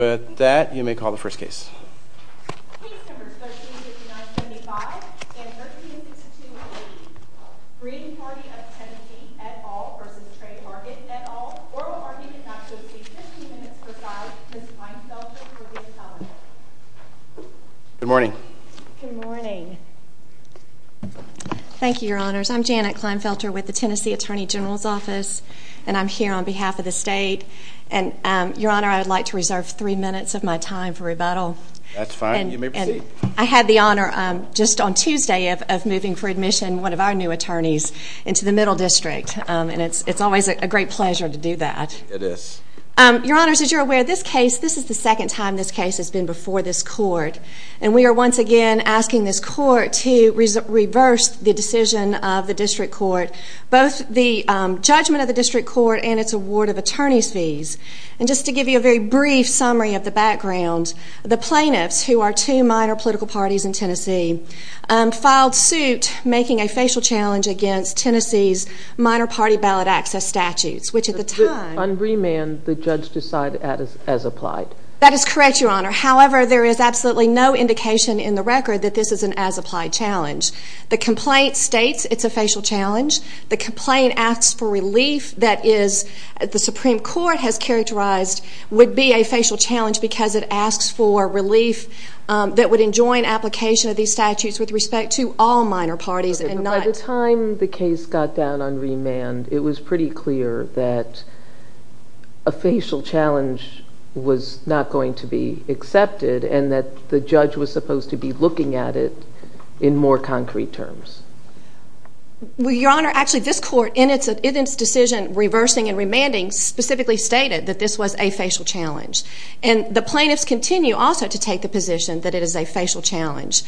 With that, you may call the first case. Case numbers 13-59-75 and 13-62-80, Green Party of Tennessee et al versus Tre Hargett et al. Oral argument not to exceed 50 minutes per side. Ms. Kleinfelter will be the teller. Good morning. Good morning. Thank you, Your Honors. I'm Janet Kleinfelter with the Tennessee Attorney General's Office. And I'm here on behalf of the state. And Your Honor, I would like to reserve three minutes of my time for rebuttal. That's fine. You may proceed. I had the honor just on Tuesday of moving for admission one of our new attorneys into the Middle District. And it's always a great pleasure to do that. It is. Your Honors, as you're aware, this case, this is the second time this case has been before this court. And we are once again asking this court to reverse the decision of the district court. Both the judgment of the district court and its award of attorney's fees. And just to give you a very brief summary of the background, the plaintiffs, who are two minor political parties in Tennessee, filed suit making a facial challenge against Tennessee's minor party ballot access statutes, which at the time. On remand, the judge decided as applied. That is correct, Your Honor. However, there is absolutely no indication in the record that this is an as applied challenge. The complaint states it's a facial challenge. The complaint asks for relief. That is, the Supreme Court has characterized would be a facial challenge because it asks for relief that would enjoin application of these statutes with respect to all minor parties and not. By the time the case got down on remand, it was pretty clear that a facial challenge was not going to be accepted. And that the judge was supposed to be looking at it in more concrete terms. Well, Your Honor, actually, this court, in its decision reversing and remanding, specifically stated that this was a facial challenge. And the plaintiffs continue also to take the position that it is a facial challenge.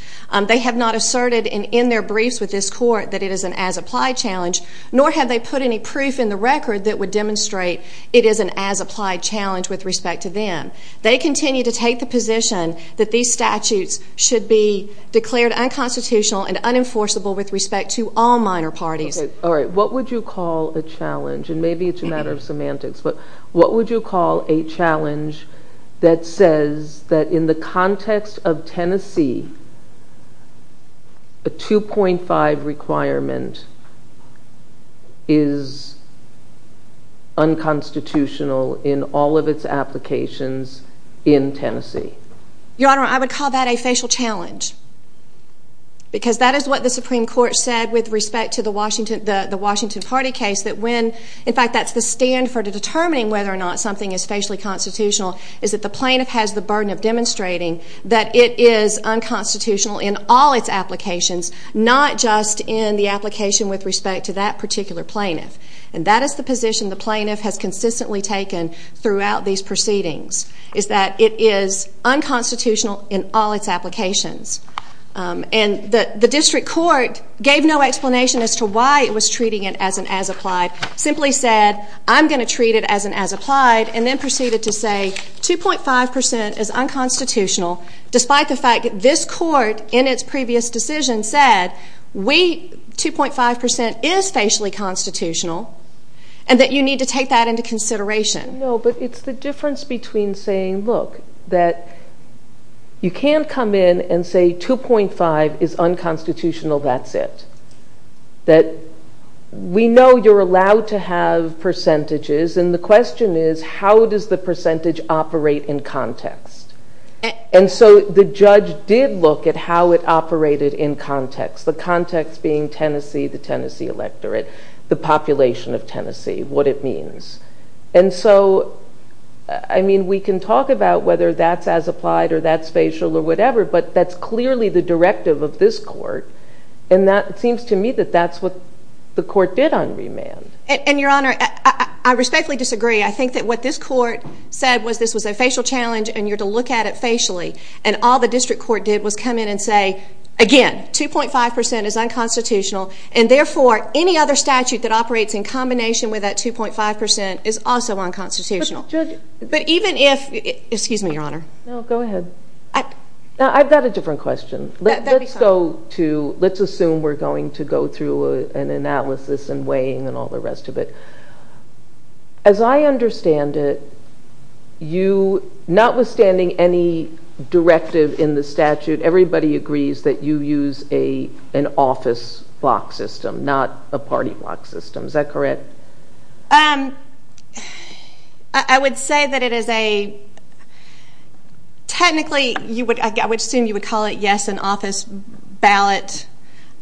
They have not asserted in their briefs with this court that it is an as applied challenge, nor have they put any proof in the record that would demonstrate it is an as applied challenge with respect to them. They continue to take the position that these statutes should be declared unconstitutional and unenforceable with respect to all minor parties. All right, what would you call a challenge? And maybe it's a matter of semantics, but what would you call a challenge that says that in the context of Tennessee, a 2.5 requirement is unconstitutional in all of its applications in Tennessee? Your Honor, I would call that a facial challenge, because that is what the Supreme Court said with respect to the Washington Party case, that when, in fact, that's the stand for determining whether or not something is facially constitutional, is that the plaintiff has the burden of demonstrating that it is unconstitutional in all its applications, not just in the application with respect to that particular plaintiff. And that is the position the plaintiff has consistently taken throughout these proceedings, is that it is unconstitutional in all its applications. And the district court gave no explanation as to why it was treating it as an as-applied, simply said, I'm going to treat it as an as-applied, and then proceeded to say, 2.5% is unconstitutional, despite the fact that this court in its previous decision said, 2.5% is facially constitutional, and that you need to take that into consideration. No, but it's the difference between saying, look, that you can't come in and say, 2.5% is unconstitutional, that's it. That we know you're allowed to have percentages, and the question is, how does the percentage operate in context? And so the judge did look at how it operated in context, the context being Tennessee, the Tennessee electorate, the population of Tennessee, what it means. And so, I mean, we can talk about whether that's as-applied, or that's facial, or whatever, but that's clearly the directive of this court. And it seems to me that that's what the court did on remand. And your honor, I respectfully disagree. I think that what this court said was this was a facial challenge, and you're to look at it facially. And all the district court did was come in and say, again, 2.5% is unconstitutional, and therefore, any other statute that operates in combination with that 2.5% is also unconstitutional. But even if, excuse me, your honor. No, go ahead. I've got a different question. Let's assume we're going to go through an analysis, and weighing, and all the rest of it. As I understand it, you, notwithstanding any directive in the statute, everybody agrees that you use an office block system, not a party block system. Is that correct? I would say that it is a, technically, I would assume you would call it, yes, an office ballot.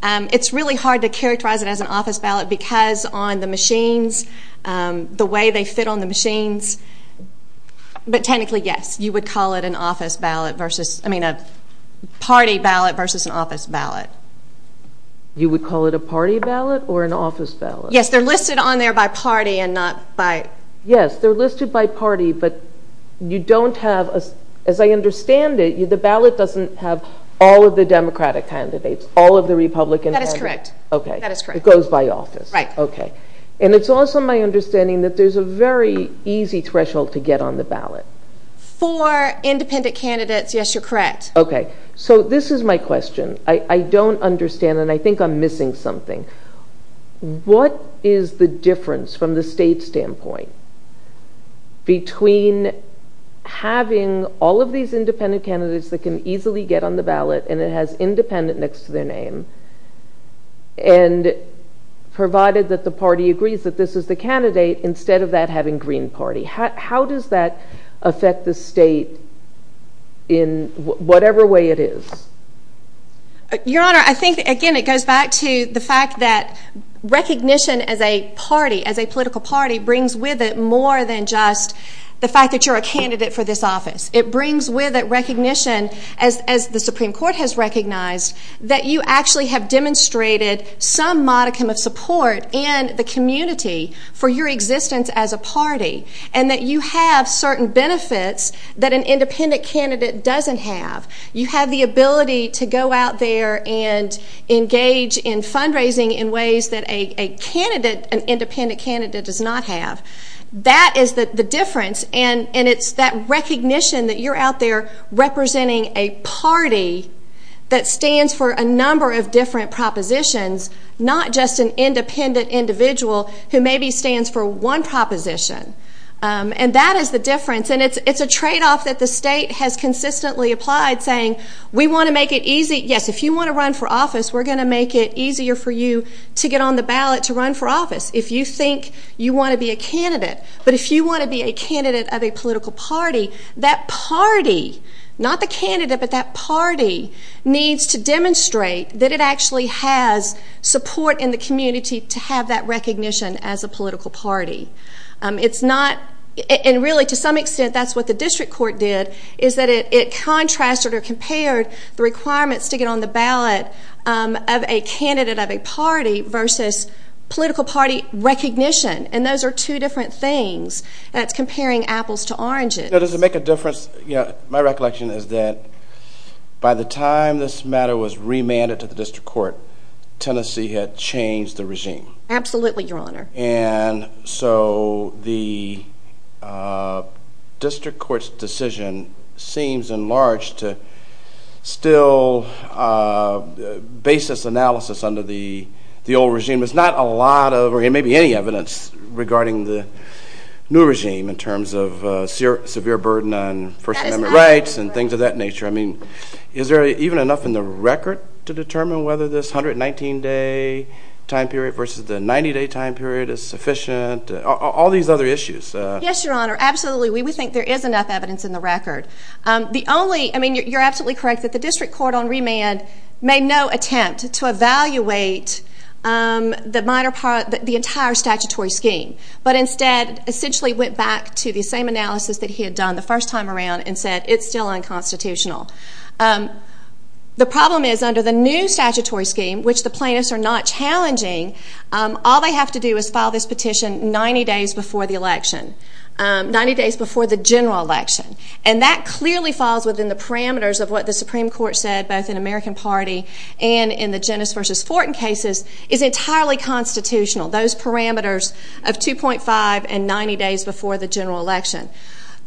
It's really hard to characterize it as an office ballot, because on the machines, the way they fit on the machines. But technically, yes, you would call it an office ballot versus, I mean, a party ballot versus an office ballot. You would call it a party ballot or an office ballot? Yes, they're listed on there by party and not by. Yes, they're listed by party, but you don't have, as I understand it, the ballot doesn't have all of the Democratic candidates, all of the Republican. That is correct. OK, it goes by office. OK, and it's also my understanding that there's a very easy threshold to get on the ballot. For independent candidates, yes, you're correct. OK, so this is my question. I don't understand, and I think I'm missing something. What is the difference, from the state standpoint, between having all of these independent candidates that can easily get on the ballot, and it has independent next to their name, and provided that the party agrees that this is the candidate, instead of that having Green Party? How does that affect the state in whatever way it is? Your Honor, I think, again, it goes back to the fact that recognition as a party, as a political party, brings with it more than just the fact that you're a candidate for this office. It brings with it recognition, as the Supreme Court has recognized, that you actually have demonstrated some modicum of support in the community for your existence as a party, and that you have certain benefits that an independent candidate doesn't have. You have the ability to go out there and engage in fundraising in ways that an independent candidate does not have. That is the difference, and it's that recognition that you're out there representing a party that stands for a number of different propositions, not just an independent individual who maybe stands for one proposition. And that is the difference, and it's a trade-off that the state has consistently applied, saying, we want to make it easy. Yes, if you want to run for office, we're going to make it easier for you to get on the ballot to run for office, if you think you want to be a candidate. But if you want to be a candidate of a political party, that party, not the candidate, but that party needs to demonstrate that it actually has support in the community to have that recognition as a political party. It's not, and really, to some extent, that's what the district court did, is that it contrasted or compared the requirements to get on the ballot of a candidate of a party versus political party recognition. And those are two different things, and it's comparing apples to oranges. Now, does it make a difference? My recollection is that by the time this matter was remanded to the district court, Tennessee had changed the regime. Absolutely, Your Honor. And so the district court's decision seems enlarged to still basis analysis under the old regime. There's not a lot of, or maybe any, evidence regarding the new regime in terms of severe burden on First Amendment rights and things of that nature. I mean, is there even enough in the record to determine whether this 119-day time period versus the 90-day time period is sufficient? All these other issues. Yes, Your Honor, absolutely. We think there is enough evidence in the record. The only, I mean, you're absolutely correct that the district court on remand made no attempt to evaluate the entire statutory scheme, but instead essentially went back to the same analysis that he had done the first time around and said it's still unconstitutional. The problem is under the new statutory scheme, which the plaintiffs are not challenging, all they have to do is file this petition 90 days before the election, 90 days before the general election. And that clearly falls within the parameters of what the Supreme Court said, both in American Party and in the Jennis versus Fortin cases, is entirely constitutional. Those parameters of 2.5 and 90 days before the general election.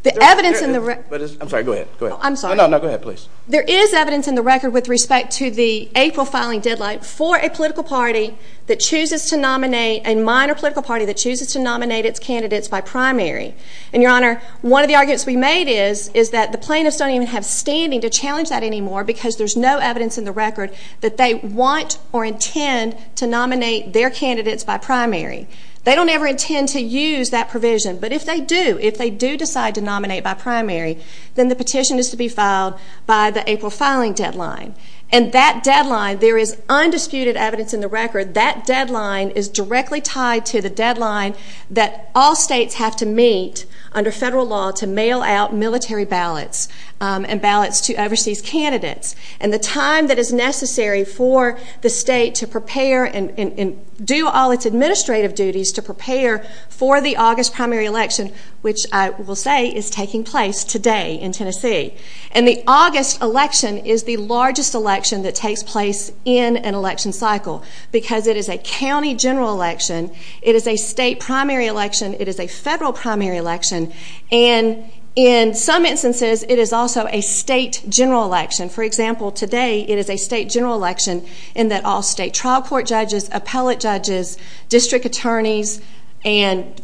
The evidence in the record. I'm sorry, go ahead. I'm sorry. No, no, go ahead, please. There is evidence in the record with respect to the April filing deadline for a political party that chooses to nominate, a minor political party that nominates candidates by primary. And Your Honor, one of the arguments we made is that the plaintiffs don't even have standing to challenge that anymore, because there's no evidence in the record that they want or intend to nominate their candidates by primary. They don't ever intend to use that provision. But if they do, if they do decide to nominate by primary, then the petition is to be filed by the April filing deadline. And that deadline, there is undisputed evidence in the record, that deadline is directly tied to the deadline that all states have to meet under federal law to mail out military ballots and ballots to overseas candidates. And the time that is necessary for the state to prepare and do all its administrative duties to prepare for the August primary election, which I will say is taking place today in Tennessee. And the August election is the largest election that takes place in an election cycle, because it is a county general election. It is a state primary election. It is a federal primary election. And in some instances, it is also a state general election. For example, today it is a state general election in that all state trial court judges, appellate judges, district attorneys, and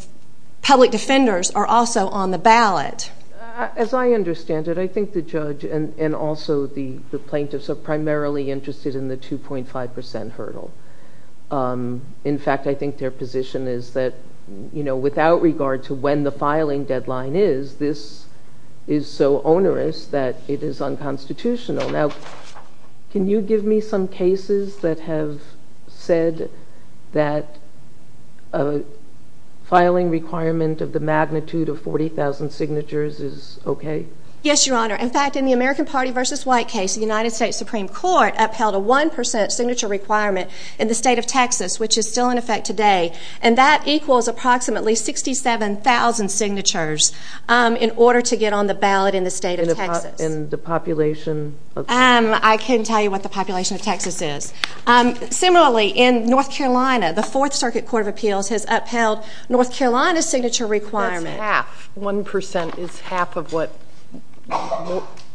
public defenders are also on the ballot. As I understand it, I think the judge and also the plaintiffs are primarily interested in the 2.5% hurdle. In fact, I think their position is that without regard to when the filing deadline is, this is so onerous that it is unconstitutional. Now, can you give me some cases that have said that a filing requirement of the magnitude of 40,000 signatures is OK? Yes, Your Honor. In fact, in the American Party v. White case, the United States Supreme Court upheld a 1% signature requirement in the state of Texas, which is still in effect today. And that equals approximately 67,000 signatures in order to get on the ballot in the state of Texas. And the population of Texas? I can tell you what the population of Texas is. Similarly, in North Carolina, the Fourth Circuit Court of Appeals has upheld North Carolina's signature requirement. That's half. 1% is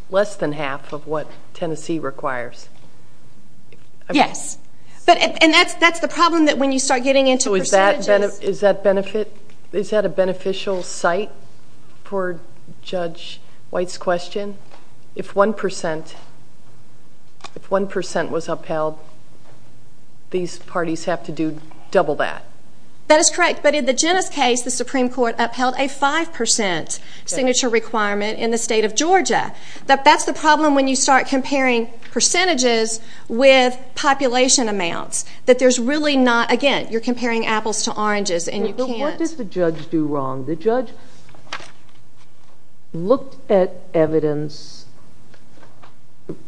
less than half of what Tennessee requires. Yes. And that's the problem when you start getting into percentages. Is that a beneficial site for Judge White's question? If 1% was upheld, these parties have to do double that. That is correct. But in the Jenna's case, the Supreme Court upheld a 5% signature requirement in the state of Georgia. That's the problem when you start comparing percentages with population amounts, that there's really not, again, you're comparing apples to oranges, and you can't. But what does the judge do wrong? The judge looked at evidence,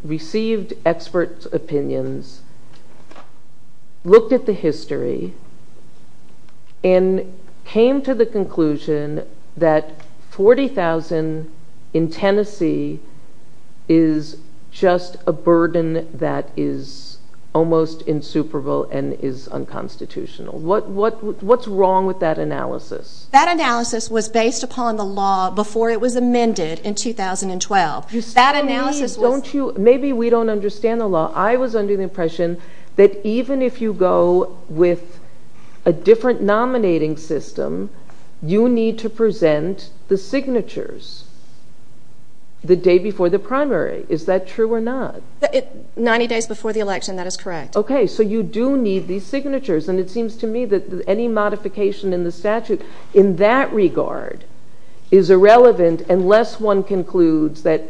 received expert opinions, looked at the history, and came to the conclusion that 40,000 in Tennessee is just a burden that is almost insuperable and is unconstitutional. What's wrong with that analysis? That analysis was based upon the law before it was amended in 2012. That analysis was- Maybe we don't understand the law. I was under the impression that even if you go with a different nominating system, you need to present the signatures the day before the primary. Is that true or not? 90 days before the election, that is correct. OK, so you do need these signatures. And it seems to me that any modification in the statute in that regard is irrelevant unless one concludes that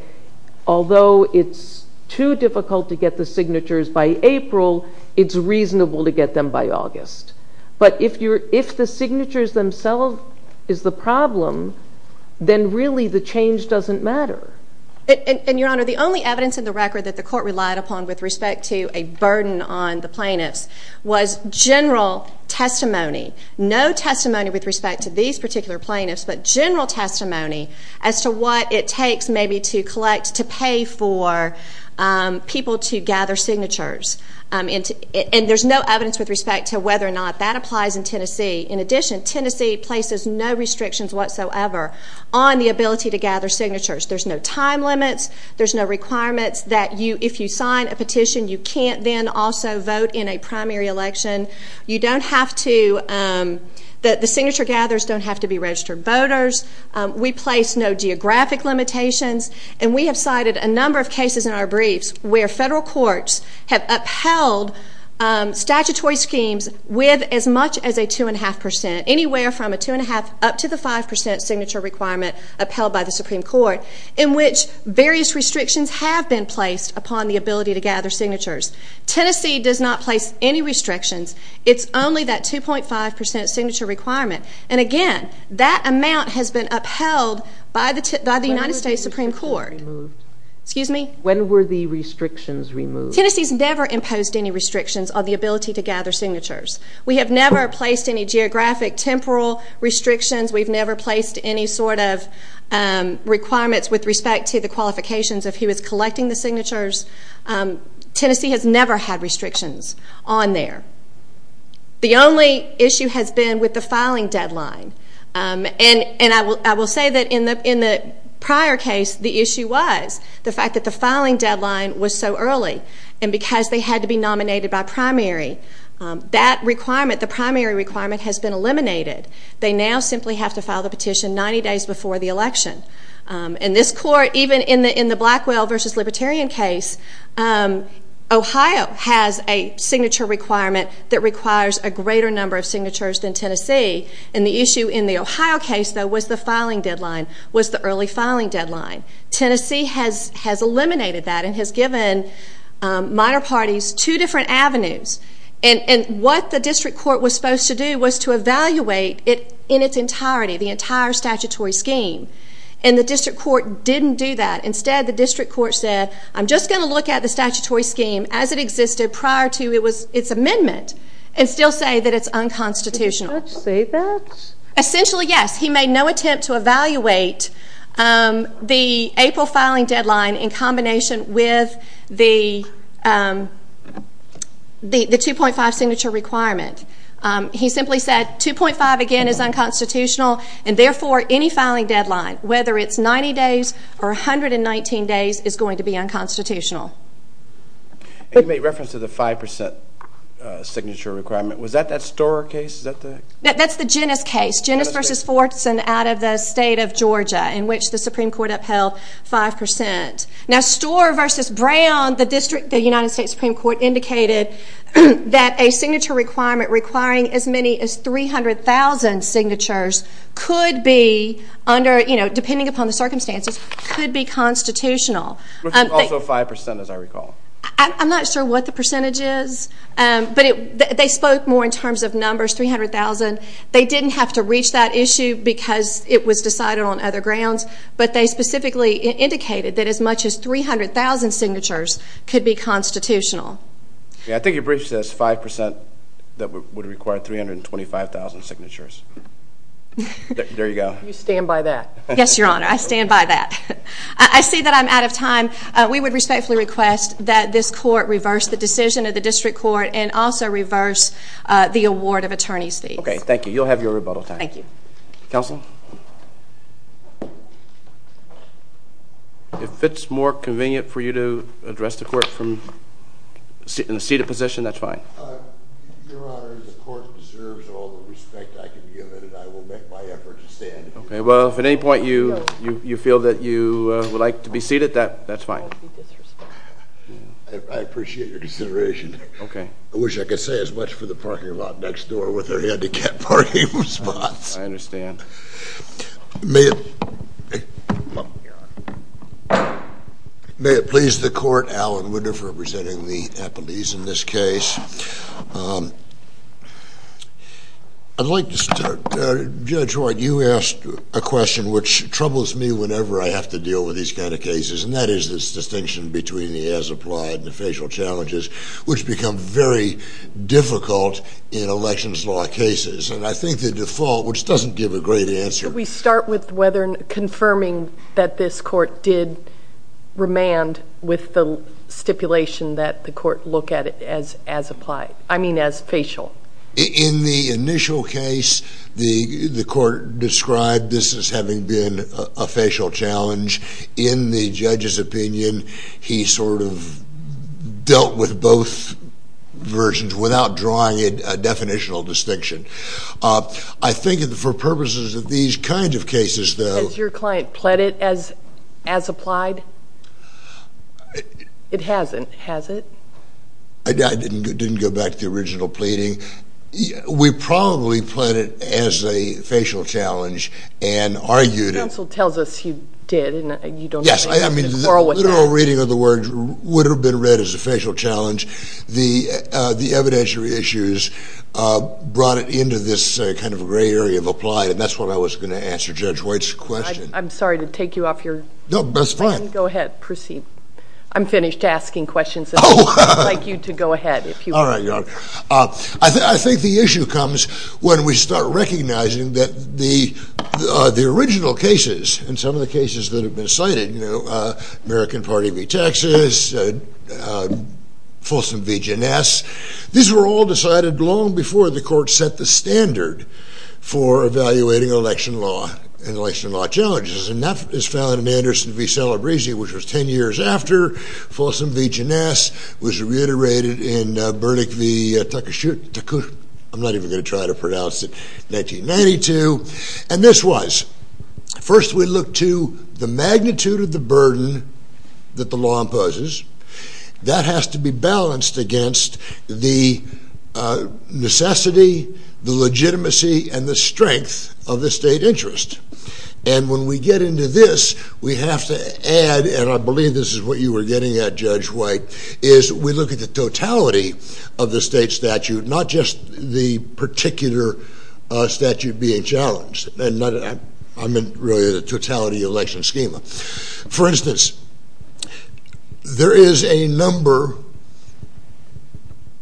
although it's too difficult to get the signatures by April, it's reasonable to get them by August. But if the signatures themselves is the problem, then really the change doesn't matter. And Your Honor, the only evidence in the record that the court relied upon with respect to a burden on the plaintiffs was general testimony. No testimony with respect to these particular plaintiffs, but general testimony as to what it takes maybe to collect to pay for people to gather signatures. And there's no evidence with respect to whether or not that applies in Tennessee. In addition, Tennessee places no restrictions whatsoever on the ability to gather signatures. There's no time limits. There's no requirements that if you sign a petition, you can't then also vote in a primary election. You don't have to. The signature gatherers don't have to be registered voters. We place no geographic limitations. And we have cited a number of cases in our briefs where federal courts have upheld statutory schemes with as much as a 2.5%, anywhere from a 2.5% up to the 5% signature requirement upheld by the Supreme Court, in which various restrictions have been placed upon the ability to gather signatures. Tennessee does not place any restrictions. It's only that 2.5% signature requirement. And again, that amount has been upheld by the United States Supreme Court. Excuse me? When were the restrictions removed? Tennessee's never imposed any restrictions on the ability to gather signatures. We have never placed any geographic temporal restrictions. We've never placed any sort of requirements with respect to the qualifications of who is collecting the signatures. Tennessee has never had restrictions on there. The only issue has been with the filing deadline. And I will say that in the prior case, the issue was the fact that the filing deadline was so early. And because they had to be nominated by primary, that requirement, the primary requirement, has been eliminated. They now simply have to file the petition 90 days before the election. In this court, even in the Blackwell versus Libertarian case, Ohio has a signature requirement that requires a greater number of signatures than Tennessee. And the issue in the Ohio case, though, was the filing deadline was the early filing deadline. Tennessee has eliminated that and has given minor parties two different avenues. And what the district court was supposed to do was to evaluate it in its entirety, the entire statutory scheme. And the district court didn't do that. Instead, the district court said, I'm just going to look at the statutory scheme as it existed prior to its amendment and still say that it's unconstitutional. Did the judge say that? Essentially, yes. He made no attempt to evaluate the April filing deadline in combination with the 2.5 signature requirement. He simply said, 2.5, again, is unconstitutional. And therefore, any filing deadline, whether it's 90 days or 119 days, is going to be unconstitutional. You made reference to the 5% signature requirement. Was that that Storer case? That's the Genes case. Genes versus Fortson out of the state of Georgia, in which the Supreme Court upheld 5%. Now, Storer versus Brown, the United States Supreme Court indicated that a signature requirement requiring as many as 300,000 signatures, depending upon the circumstances, could be constitutional. Which is also 5%, as I recall. I'm not sure what the percentage is. But they spoke more in terms of numbers, 300,000. They didn't have to reach that issue, because it was decided on other grounds. But they specifically indicated that as much as 300,000 signatures could be constitutional. Yeah, I think your brief says 5% that would require 325,000 signatures. There you go. You stand by that? Yes, Your Honor, I stand by that. I see that I'm out of time. We would respectfully request that this court reverse the decision of the district court and also reverse the award of attorney's fees. OK, thank you. You'll have your rebuttal time. Thank you. Counsel? If it's more convenient for you to address the court from a seated position, that's fine. Your Honor, the court deserves all the respect I can give it. And I will make my effort to stand here. OK, well, if at any point you feel that you would like to be seated, that's fine. I appreciate your consideration. I wish I could say as much for the parking lot next door with their handicap parking spots. I understand. May it please the court, Alan Winter for presenting the appellees in this case. I'd like to start. Judge Hoyt, you asked a question which troubles me whenever I have to deal with these kind of cases, and that is this distinction between the as-applied and the facial challenges, which become very difficult in elections law cases. And I think the default, which doesn't give a great answer. Could we start with confirming that this court did remand with the stipulation that the court look at it as applied? I mean as facial. In the initial case, the court described this as having been a facial challenge. In the judge's opinion, he sort of dealt with both versions without drawing a definitional distinction. I think for purposes of these kinds of cases, though. Has your client pled it as applied? It hasn't, has it? I didn't go back to the original pleading. We probably pled it as a facial challenge and argued it. The counsel tells us you did, and you don't quarrel with that. Yes, I mean, the literal reading of the words would have been read as a facial challenge. The evidentiary issues brought it into this kind of gray area of applied, and that's what I was going to answer Judge Hoyt's question. I'm sorry to take you off your time. No, that's fine. Go ahead, proceed. I'm finished asking questions, and I'd like you to go ahead if you want. All right, Your Honor. I think the issue comes when we start recognizing that the original cases and some of the cases that have been cited, American Party v. Texas, Folsom v. Janess, these were all decided long before the court set the standard for evaluating election law and election law challenges. And that is found in Anderson v. Celebrezzi, which was 10 years after Folsom v. Janess was reiterated in Burdick v. Takushi, I'm not even going to try to pronounce it, 1992. And this was, first we look to the magnitude of the burden that the law imposes. That has to be balanced against the necessity, the legitimacy, and the strength of the state interest. And when we get into this, we have to add, and I believe this is what you were getting at, Judge Hoyt, is we look at the totality of the state statute, not just the particular statute being challenged. And I meant really the totality election schema. For instance, there is a number,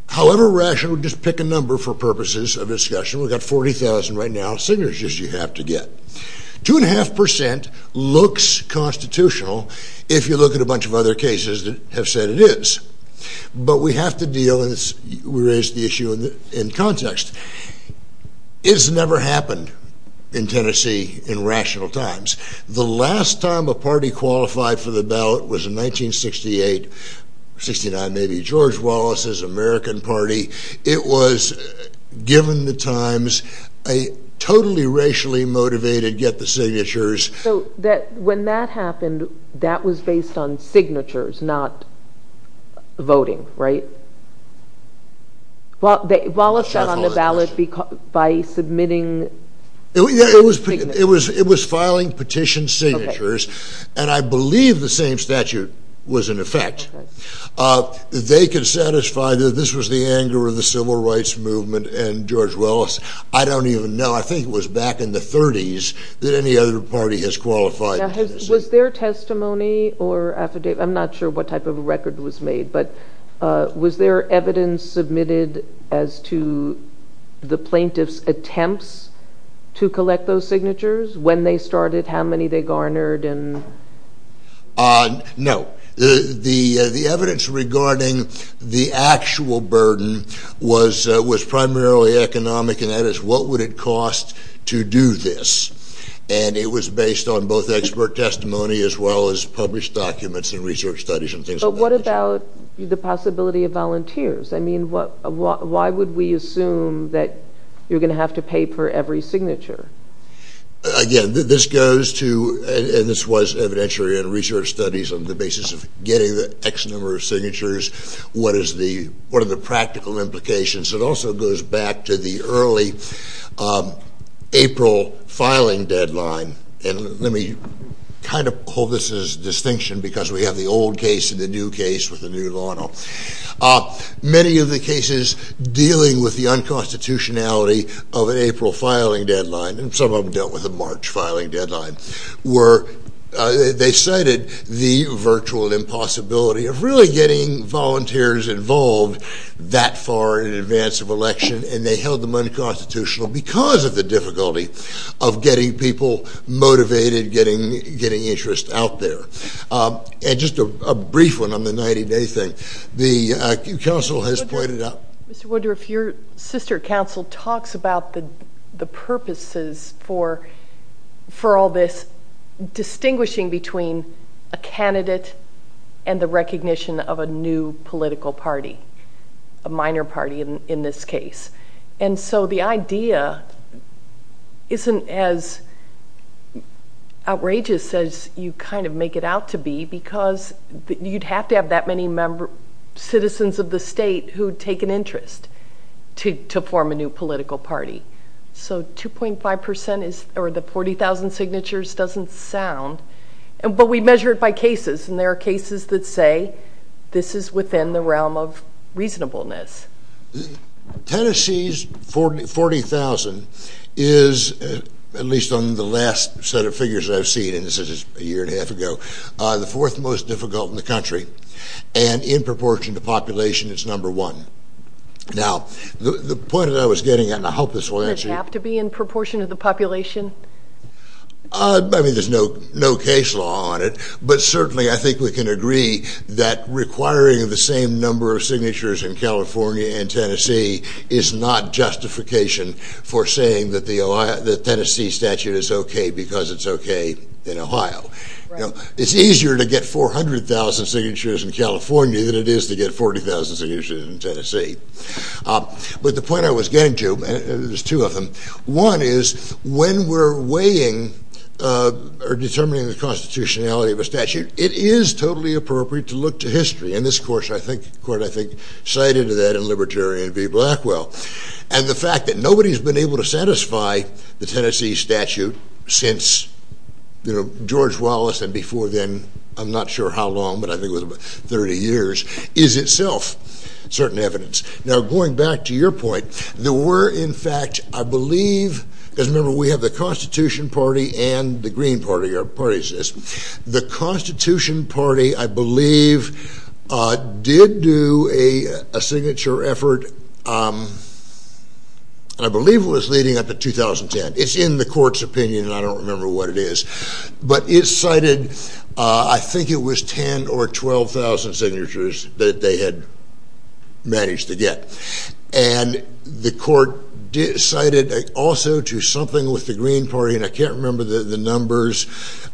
however rational, just pick a number for purposes of discussion. We've got 40,000 right now, signatures you have to get. 2.5% looks constitutional if you look at a bunch of other cases that have said it is. But we have to deal, and we raised the issue in context. It's never happened in Tennessee in rational times. The last time a party qualified for the ballot was in 1968, 69 maybe, George Wallace's American party. It was, given the times, a totally racially motivated get the signatures. So when that happened, that was based on signatures, not voting, right? Wallace got on the ballot by submitting signatures. It was filing petition signatures. And I believe the same statute was in effect. They could satisfy that this was the anger of the Civil Rights Movement and George Wallace. I don't even know. I think it was back in the 30s that any other party has qualified. Was there testimony or affidavit? I'm not sure what type of a record was made. But was there evidence submitted as to the plaintiff's attempts to collect those signatures, when they started, how many they garnered, and? No, the evidence regarding the actual burden was primarily economic. And that is, what would it cost to do this? And it was based on both expert testimony as well as published documents and research studies and things like that. But what about the possibility of volunteers? I mean, why would we assume that you're going to have to pay for every signature? Again, this goes to, and this was evidentiary in research studies on the basis of getting the X number of signatures. What are the practical implications? It also goes back to the early April filing deadline. And let me kind of call this a distinction, because we have the old case and the new case with the new law. Many of the cases dealing with the unconstitutionality of an April filing deadline, and some of them dealt with a March filing deadline, were they cited the virtual impossibility of really getting volunteers involved that far in advance of election. And they held them unconstitutional because of the difficulty of getting people motivated, getting interest out there. And just a brief one on the 90-day thing. The council has pointed out. Mr. Woodruff, your sister council talks about the purposes for all this distinguishing between a candidate and the recognition of a new political party, a minor party in this case. And so the idea isn't as outrageous as you kind of make it out to be, because you'd have to have that many citizens of the state who would take an interest to form a new political party. So 2.5% or the 40,000 signatures doesn't sound. But we measure it by cases. And there are cases that say, this is within the realm of reasonableness. Tennessee's 40,000 is, at least on the last set of figures I've seen, and this is a year and a half ago, the fourth most difficult in the country. And in proportion to population, it's number one. Now, the point that I was getting, and I hope this will answer you. Does it have to be in proportion to the population? I mean, there's no case law on it. But certainly, I think we can agree that requiring the same number of signatures in California and Tennessee is not justification for saying that the Tennessee statute is OK because it's OK in Ohio. It's easier to get 400,000 signatures in California than it is to get 40,000 signatures in Tennessee. But the point I was getting to, and there's two of them, one is when we're weighing or determining the constitutionality of a statute, it is totally appropriate to look to history. And this court, I think, cited that in Libertarian v. Blackwell. And the fact that nobody's been able to satisfy the Tennessee statute since George Wallace and before then, I'm not sure how long, but I think it was 30 years, is itself certain evidence. Now, going back to your point, there were, in fact, I believe, because remember, we have the Constitution Party and the Green Party, our party system. The Constitution Party, I believe, did do a signature effort. I believe it was leading up to 2010. It's in the court's opinion, and I don't remember what it is. But it cited, I think it was 10,000 or 12,000 signatures that they had managed to get. And the court cited also to something with the Green Party, and I can't remember the numbers.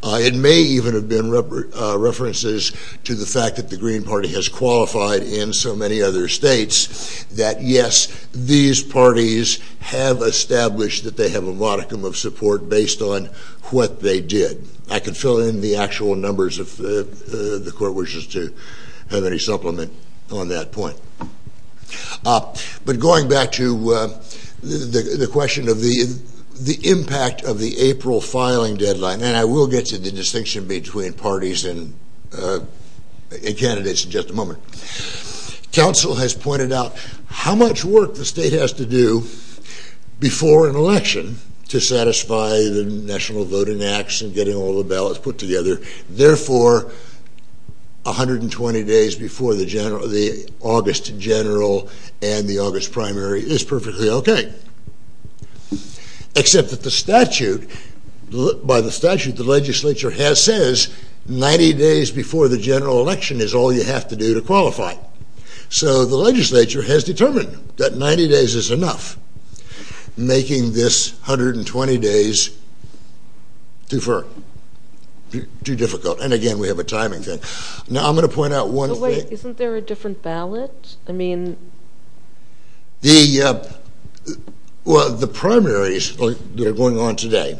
It may even have been references to the fact that the Green Party has qualified in so many other states that, yes, these parties have established that they have a modicum of support based on what they did. I can fill in the actual numbers if the court wishes to have any supplement on that point. But going back to the question of the impact of the April filing deadline, and I will get to the distinction between parties and candidates in just a moment. Council has pointed out how much work the state has to do before an election to satisfy the National Voting Acts and getting all the ballots put to the other. Therefore, 120 days before the August general and the August primary is perfectly OK. Except that the statute, by the statute, the legislature has says 90 days before the general election is all you have to do to qualify. So the legislature has determined that 90 days is enough, making this 120 days too far, too difficult. And again, we have a timing thing. Now, I'm going to point out one thing. Isn't there a different ballot? I mean, the primaries that are going on today,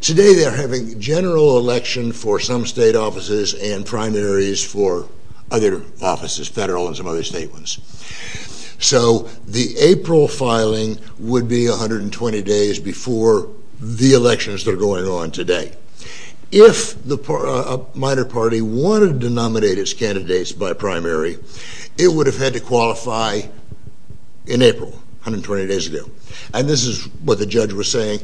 today they're having general election for some state offices and primaries for other offices, federal and some other state ones. So the April filing would be 120 days before the elections that are going on today. If a minor party wanted to nominate its candidates by primary, it would have had to qualify in April, 120 days ago. And this is what the judge was saying.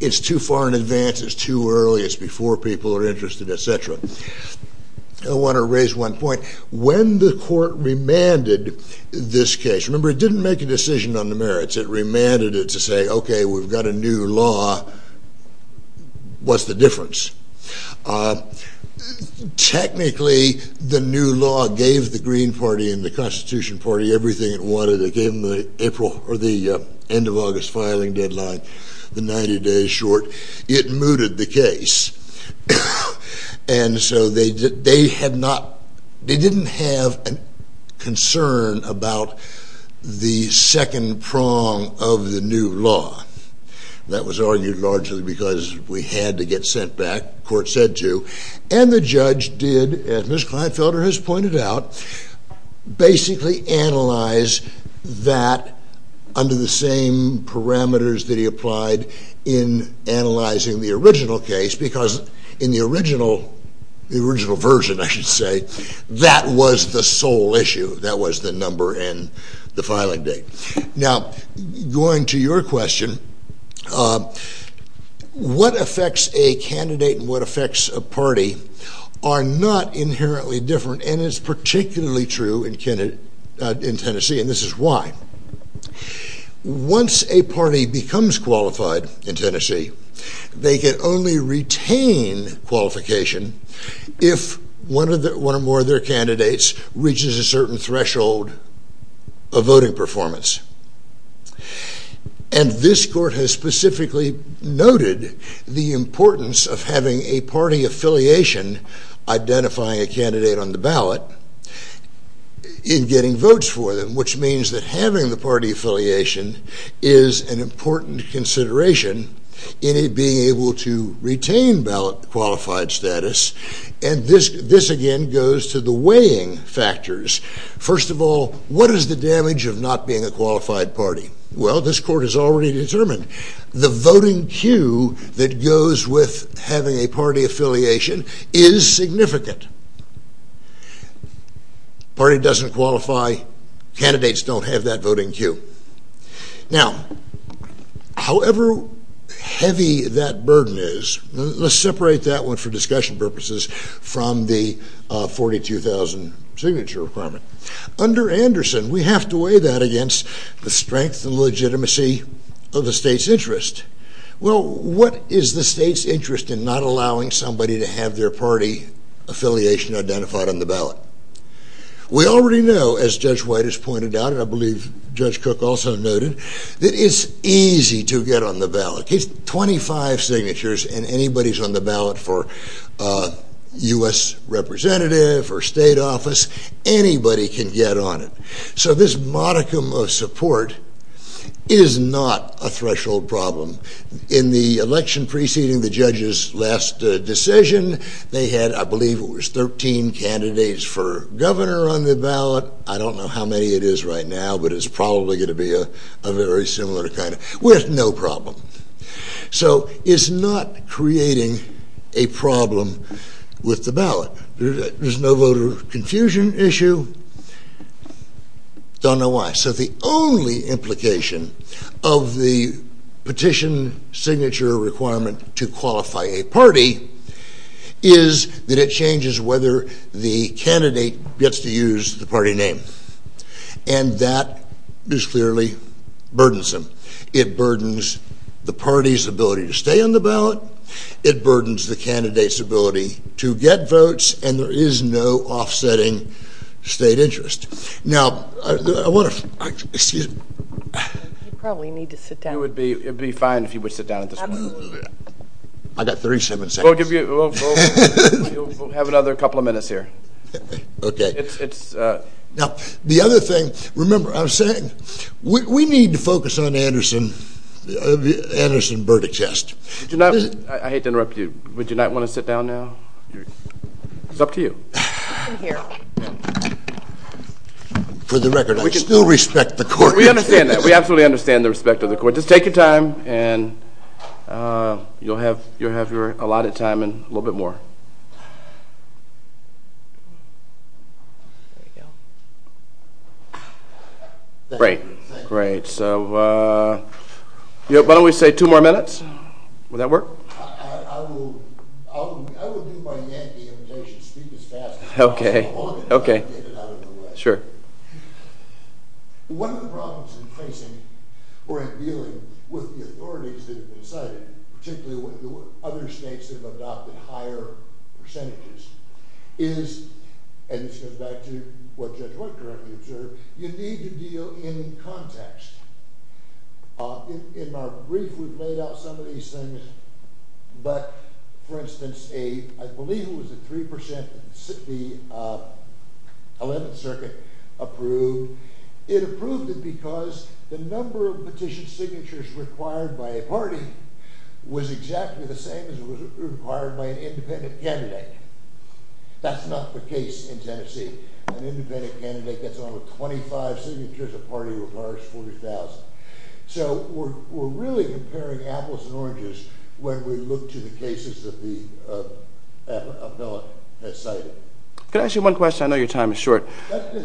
It's too far in advance. It's too early. It's before people are interested, et cetera. I want to raise one point. When the court remanded this case, remember it didn't make a decision on the merits. It remanded it to say, OK, we've got a new law. What's the difference? Technically, the new law gave the Green Party and the Constitution Party everything it wanted. It gave them the April or the end of August filing deadline, the 90 days short. It mooted the case. And so they didn't have a concern about the second prong of the new law. That was argued largely because we had to get sent back, court said to. And the judge did, as Ms. Kleinfelder has pointed out, basically analyze that under the same parameters that he applied in analyzing the original case. Because in the original version, I should say, that was the sole issue. That was the number and the filing date. Now, going to your question, what affects a candidate and what affects a party are not inherently different. And it's particularly true in Tennessee, and this is why. Once a party becomes qualified in Tennessee, they can only retain qualification if one or more of their candidates reaches a certain threshold of voting performance. And this court has specifically noted the importance of having a party affiliation identifying a candidate on the ballot in getting votes for them, which means that having the party affiliation is an important consideration in it being able to retain ballot qualified status. And this, again, goes to the weighing factors. First of all, what is the damage of not being a qualified party? Well, this court has already determined the voting queue that goes with having a party affiliation is significant. Party doesn't qualify. Candidates don't have that voting queue. Now, however heavy that burden is, let's separate that one for discussion purposes from the 42,000 signature requirement. Under Anderson, we have to weigh that against the strength and legitimacy of the state's interest. Well, what is the state's interest in not allowing somebody to have their party affiliation identified on the ballot? We already know, as Judge White has pointed out, and I believe Judge Cook also noted, that it's easy to get on the ballot. 25 signatures and anybody's on the ballot for US representative or state office, anybody can get on it. So this modicum of support is not a threshold problem. In the election preceding the judge's last decision, they had, I believe, it was 13 candidates for governor on the ballot. I don't know how many it is right now, but it's probably going to be a very similar kind, with no problem. So it's not creating a problem with the ballot. There's no voter confusion issue. Don't know why. So the only implication of the petition signature requirement to qualify a party is that it changes whether the candidate gets to use the party name. And that is clearly burdensome. It burdens the party's ability to stay on the ballot. It burdens the candidate's ability to get votes. And there is no offsetting state interest. Now, I want to, excuse me. You probably need to sit down. It would be fine if you would sit down at this point. Absolutely. I got 37 seconds. We'll give you, we'll have another couple of minutes here. OK. Now, the other thing, remember, I was saying, we need to focus on Anderson Burdick's test. I hate to interrupt you. Would you not want to sit down now? It's up to you. I'm here. For the record, I still respect the court. We understand that. We absolutely understand the respect of the court. Just take your time, and you'll have your allotted time in a little bit more. There you go. Thank you. Great. So why don't we say two more minutes? Would that work? I will do my Yankee imitation, speak as fast as I can. OK. I'll take it out of the way. Sure. One of the problems we're facing, particularly when there were other states that have adopted higher standards of voting, percentages, is, and this goes back to what Judge White currently observed, you need to deal in context. In our brief, we've laid out some of these things. But, for instance, I believe it was a 3% that the 11th Circuit approved. It approved it because the number of petition signatures required by a party was exactly the same as it was required by an independent candidate. That's not the case in Tennessee. An independent candidate gets only 25 signatures a party requires 40,000. So we're really comparing apples and oranges when we look to the cases that the bill has cited. Can I ask you one question? I know your time is short. You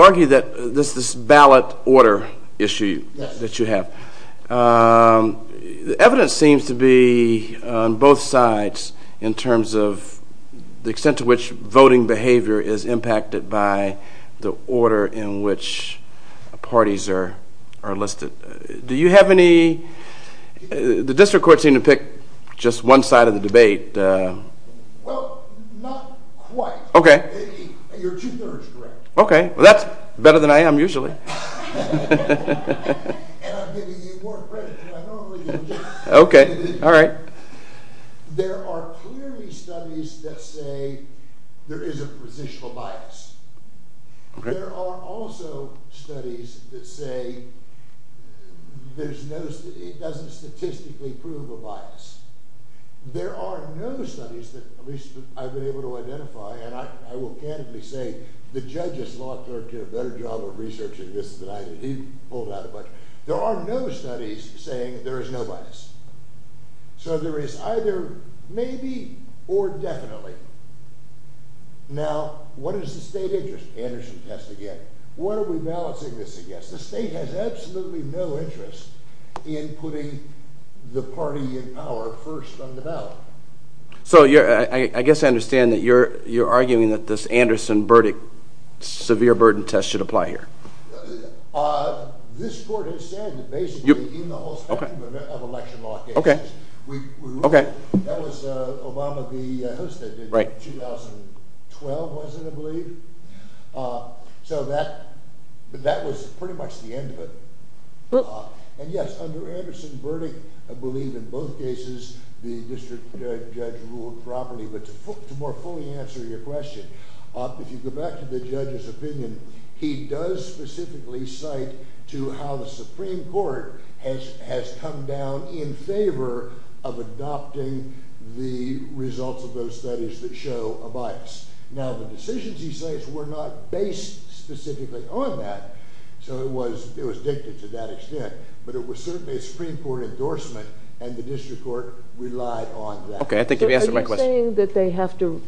argue that this ballot order issue that you have, the evidence seems to be on both sides in terms of the extent to which voting behavior is impacted by the order in which parties are listed. Do you have any, the district courts seem to pick just one side of the debate. Well, not quite. Okay. You're two-thirds correct. Okay, well that's better than I am usually. And I'm giving you more credit than I normally do. Okay, all right. There are clearly studies that say there is a positional bias. There are also studies that say there's no, it doesn't statistically prove a bias. There are no studies that at least I've been able to identify and I will candidly say the judges, law clerks, did a better job of researching this than I did. He pulled out a bunch. There are no studies saying there is no bias. So there is either maybe or definitely. Now, what is the state interest? Anderson test again. What are we balancing this against? The state has absolutely no interest in putting the party in power first on the ballot. So I guess I understand that you're arguing that this Anderson-Burdick severe burden test should apply here. This court has said that basically in the whole spectrum of election law cases, that was Obama v. Hosta in 2012, was it, I believe. So that was pretty much the end of it. And yes, under Anderson-Burdick, I believe in both cases, the district judge ruled properly. But to more fully answer your question, if you go back to the judge's opinion, he does specifically cite to how the Supreme Court has come down in favor of adopting the results of those studies that show a bias. Now, the decisions he cites were not based specifically on that. So it was dictated to that extent. But it was certainly a Supreme Court endorsement and the district court relied on that. Are you saying that they have to,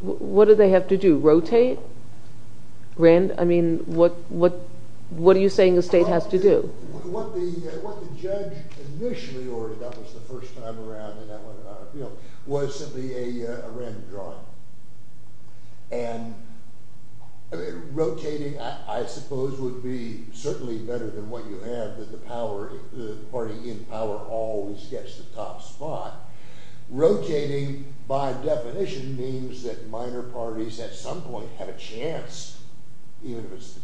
what do they have to do, rotate? I mean, what are you saying the state has to do? What the judge initially ordered, that was the first time around, was simply a random drawing. And rotating, I suppose, would be certainly better than what you had, that the party in power always gets the top spot. Rotating, by definition, means that minor parties at some point have a chance, even if it's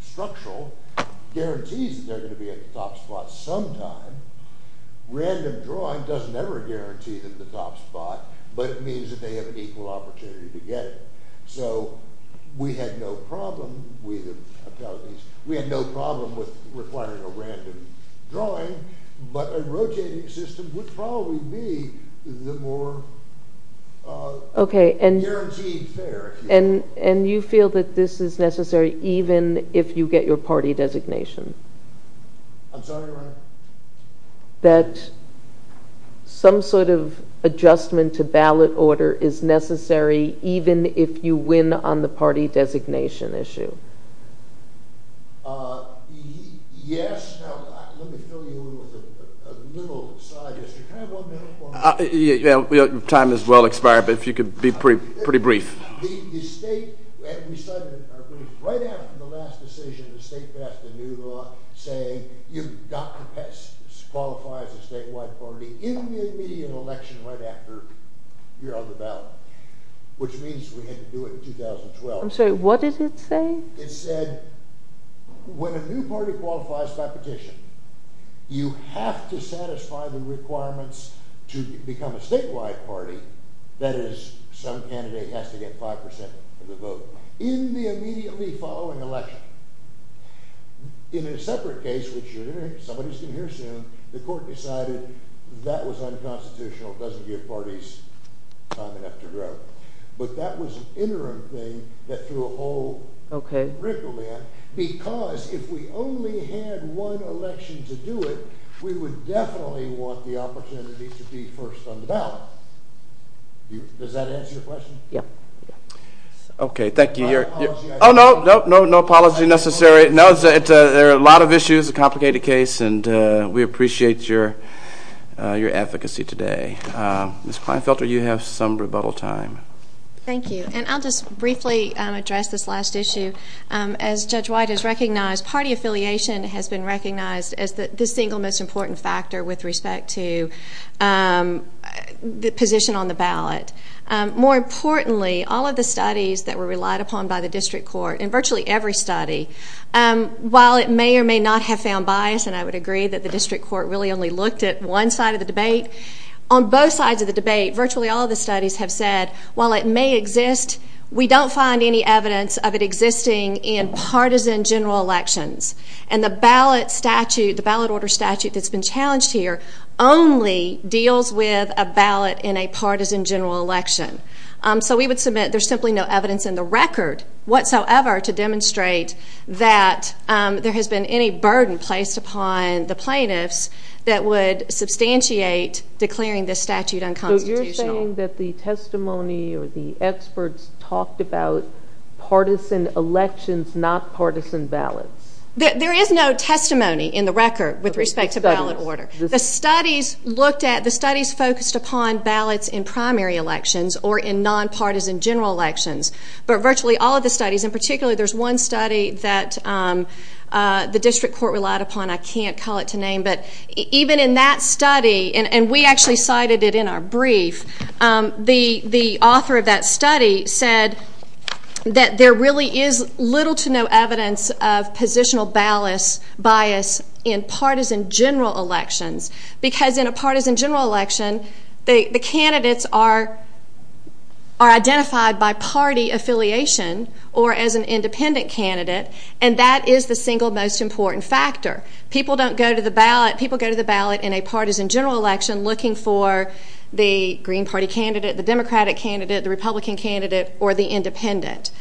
structural, guarantees that they're going to be at the top spot sometime. Random drawing doesn't ever guarantee them the top spot, but it means that they have an equal opportunity to get it. So we had no problem with requiring a random drawing, but a rotating system would probably be the more guaranteed fare. And you feel that this is necessary even if you get your party designation? I'm sorry, what? That some sort of adjustment to ballot order is necessary even if you win on the party designation issue? Yes. Now, let me fill you in on a little side issue. Can I have one minute? Time has well expired, but if you could be pretty brief. The state, right after the last decision, the state passed a new law saying you've got to qualify as a statewide party in the immediate election right after you're on the ballot, which means we had to do it in 2012. I'm sorry, what did it say? It said when a new party qualifies by petition, you have to satisfy the requirements to become a statewide party, that is, some candidate has to get 5% of the vote in the immediately following election. In a separate case, which somebody's going to hear soon, the court decided that was unconstitutional, doesn't give parties time enough to grow. But that was an interim thing that threw a whole rickle in, because if we only had one election to do it, we would definitely want the opportunity to be first on the ballot. Does that answer your question? Yeah. OK, thank you. My apologies. Oh, no, no apology necessary. There are a lot of issues, a complicated case, and we appreciate your advocacy today. Ms. Kleinfelter, you have some rebuttal time. Thank you. And I'll just briefly address this last issue. As Judge White has recognized, party affiliation has been recognized as the single most important factor with respect to the position on the ballot. More importantly, all of the studies that were relied upon by the district court, and virtually every study, while it may or may not have found bias, and I would agree that the district court really only looked at one side of the debate, on both sides of the debate, virtually all of the studies have said, while it may exist, we don't find any evidence of it existing in partisan general elections. And the ballot statute, the ballot order statute that's been challenged here, only deals with a ballot in a partisan general election. So we would submit there's simply no evidence in the record whatsoever to demonstrate that there has been any burden placed upon the plaintiffs that would substantiate declaring this statute unconstitutional. So you're saying that the testimony or the experts talked about partisan elections, not partisan ballots? There is no testimony in the record with respect to ballot order. The studies focused upon ballots in primary elections or in non-partisan general elections. But virtually all of the studies, and particularly there's one study that the district court relied upon, I can't call it to name, but even in that study, and we actually cited it in our brief, the author of that study said that there really is little to no evidence of positional bias in partisan general elections. Because in a partisan general election, the candidates are identified by party affiliation or as an independent candidate, and that is the single most important factor. People don't go to the ballot, people go to the ballot in a partisan general election looking for the Green Party candidate, the Democratic candidate, the Republican candidate, or the independent.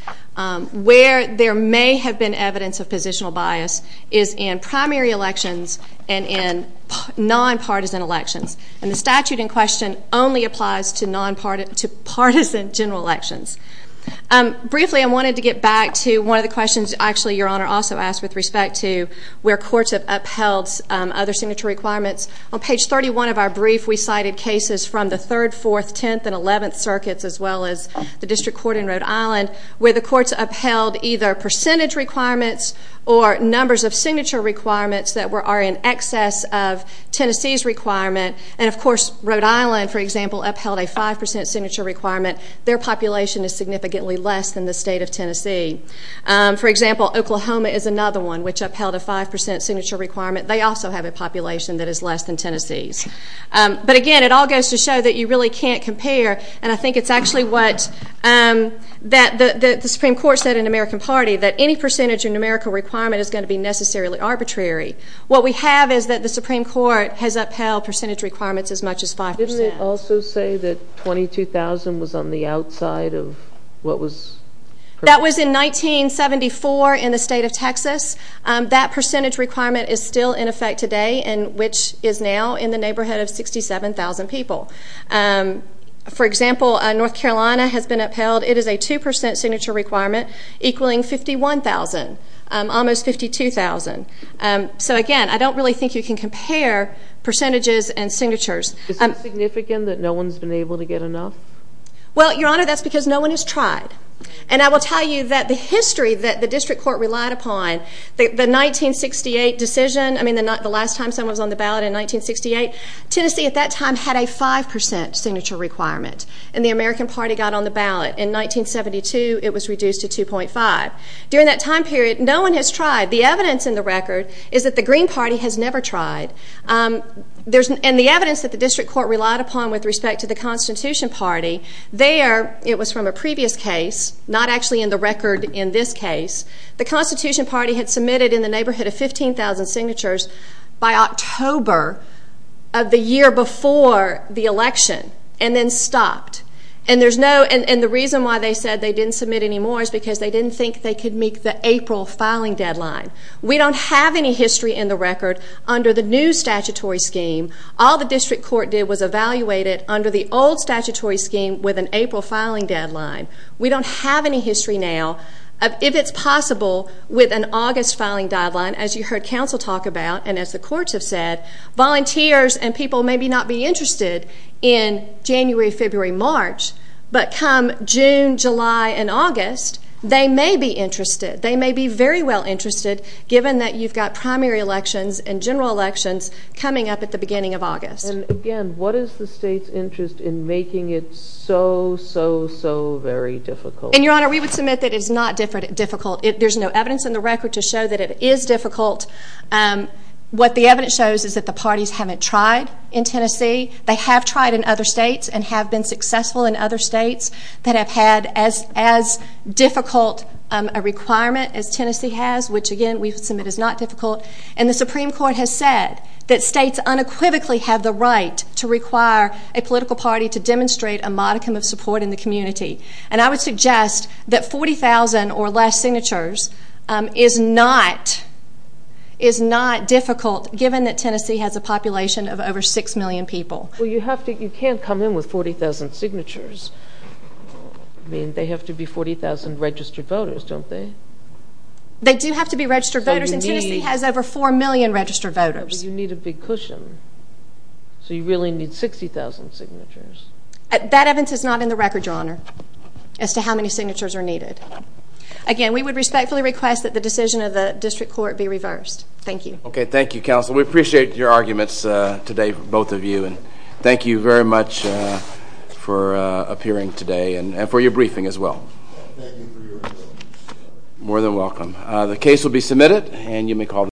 Where there may have been evidence of positional bias is in primary elections and in non-partisan elections. And the statute in question only applies to partisan general elections. Briefly, I wanted to get back to one of the questions, actually, Your Honor, also asked with respect to where courts have upheld other signature requirements. On page 31 of our brief, we cited cases from the 3rd, 4th, 10th, and 11th circuits, as well as the district court in Rhode Island, where the courts upheld either percentage requirements or numbers of signature requirements that are in excess of Tennessee's requirement. And of course, Rhode Island, for example, upheld a 5% signature requirement. Their population is significantly less than the state of Tennessee. For example, Oklahoma is another one which upheld a 5% signature requirement. They also have a population that is less than Tennessee's. But again, it all goes to show that you really can't compare. And I think it's actually what the Supreme Court said in the American Party, that any percentage or numerical requirement is going to be necessarily arbitrary. What we have is that the Supreme Court has upheld percentage requirements as much as 5%. Didn't it also say that 22,000 was on the outside of what was That was in 1974 in the state of Texas. That percentage requirement is still in effect today, and which is now in the neighborhood of 67,000 people. For example, North Carolina has been upheld. It is a 2% signature requirement equaling 51,000. Almost 52,000. So again, I don't really think you can compare percentages and signatures. Is it significant that no Well, Your Honor, that's because no one has tried. And I will tell you that the history that the District Court relied upon, the 1968 decision, I mean the last time someone was on the ballot in 1968, Tennessee at that time had a 5% signature requirement. And the American Party got on the ballot in 1972, it was reduced to 2.5. During that time period, no one has tried. The evidence in the record is that the Green Party has never tried. And the evidence that the District Court relied upon with respect to the Constitution Party, there, it was from a previous case, not actually in the record in this case, the Constitution Party had submitted in the neighborhood of 15,000 signatures by October of the year before the election, and then stopped. And there's no, and the reason why they said they didn't submit anymore is because they didn't think they could meet the April filing deadline. We don't have any history in the record under the new statutory scheme. All the old statutory scheme with an April filing deadline. We don't have any history now of if it's possible with an August filing deadline, as you heard counsel talk about and as the courts have said, volunteers and people may not be interested in January, February, March, but come June, July, and August, they may be interested. They may be very well interested given that you've got primary elections and general elections coming up at the beginning of August. And again, what is the state's interest in making it so, so, so very difficult? And your honor, we would submit that it's not difficult. There's no evidence in the record to show that it is difficult. What the evidence shows is that the parties haven't tried in Tennessee. They have tried in other states and have been successful in other states that have had as difficult a requirement as Tennessee has, which again we submit is not difficult. And the Supreme Court has said that states unequivocally have the right to require a political party to demonstrate a modicum of support in the community. And I would suggest that 40,000 or less signatures is not is not difficult given that Tennessee has a population of over 6 million people. You can't come in with 40,000 signatures. I mean they have to be 40,000 registered voters don't they? They do have to be registered voters and Tennessee has over 4 million registered voters. You need a big cushion. So you really need 60,000 signatures. That evidence is not in the record, your honor as to how many signatures are needed. Again, we would respectfully request that the decision of the district court be reversed. Thank you. Okay, thank you counsel. We appreciate your arguments today, both of you. Thank you very much for appearing today and for your briefing as well. More than welcome. The case will be submitted and you may call the...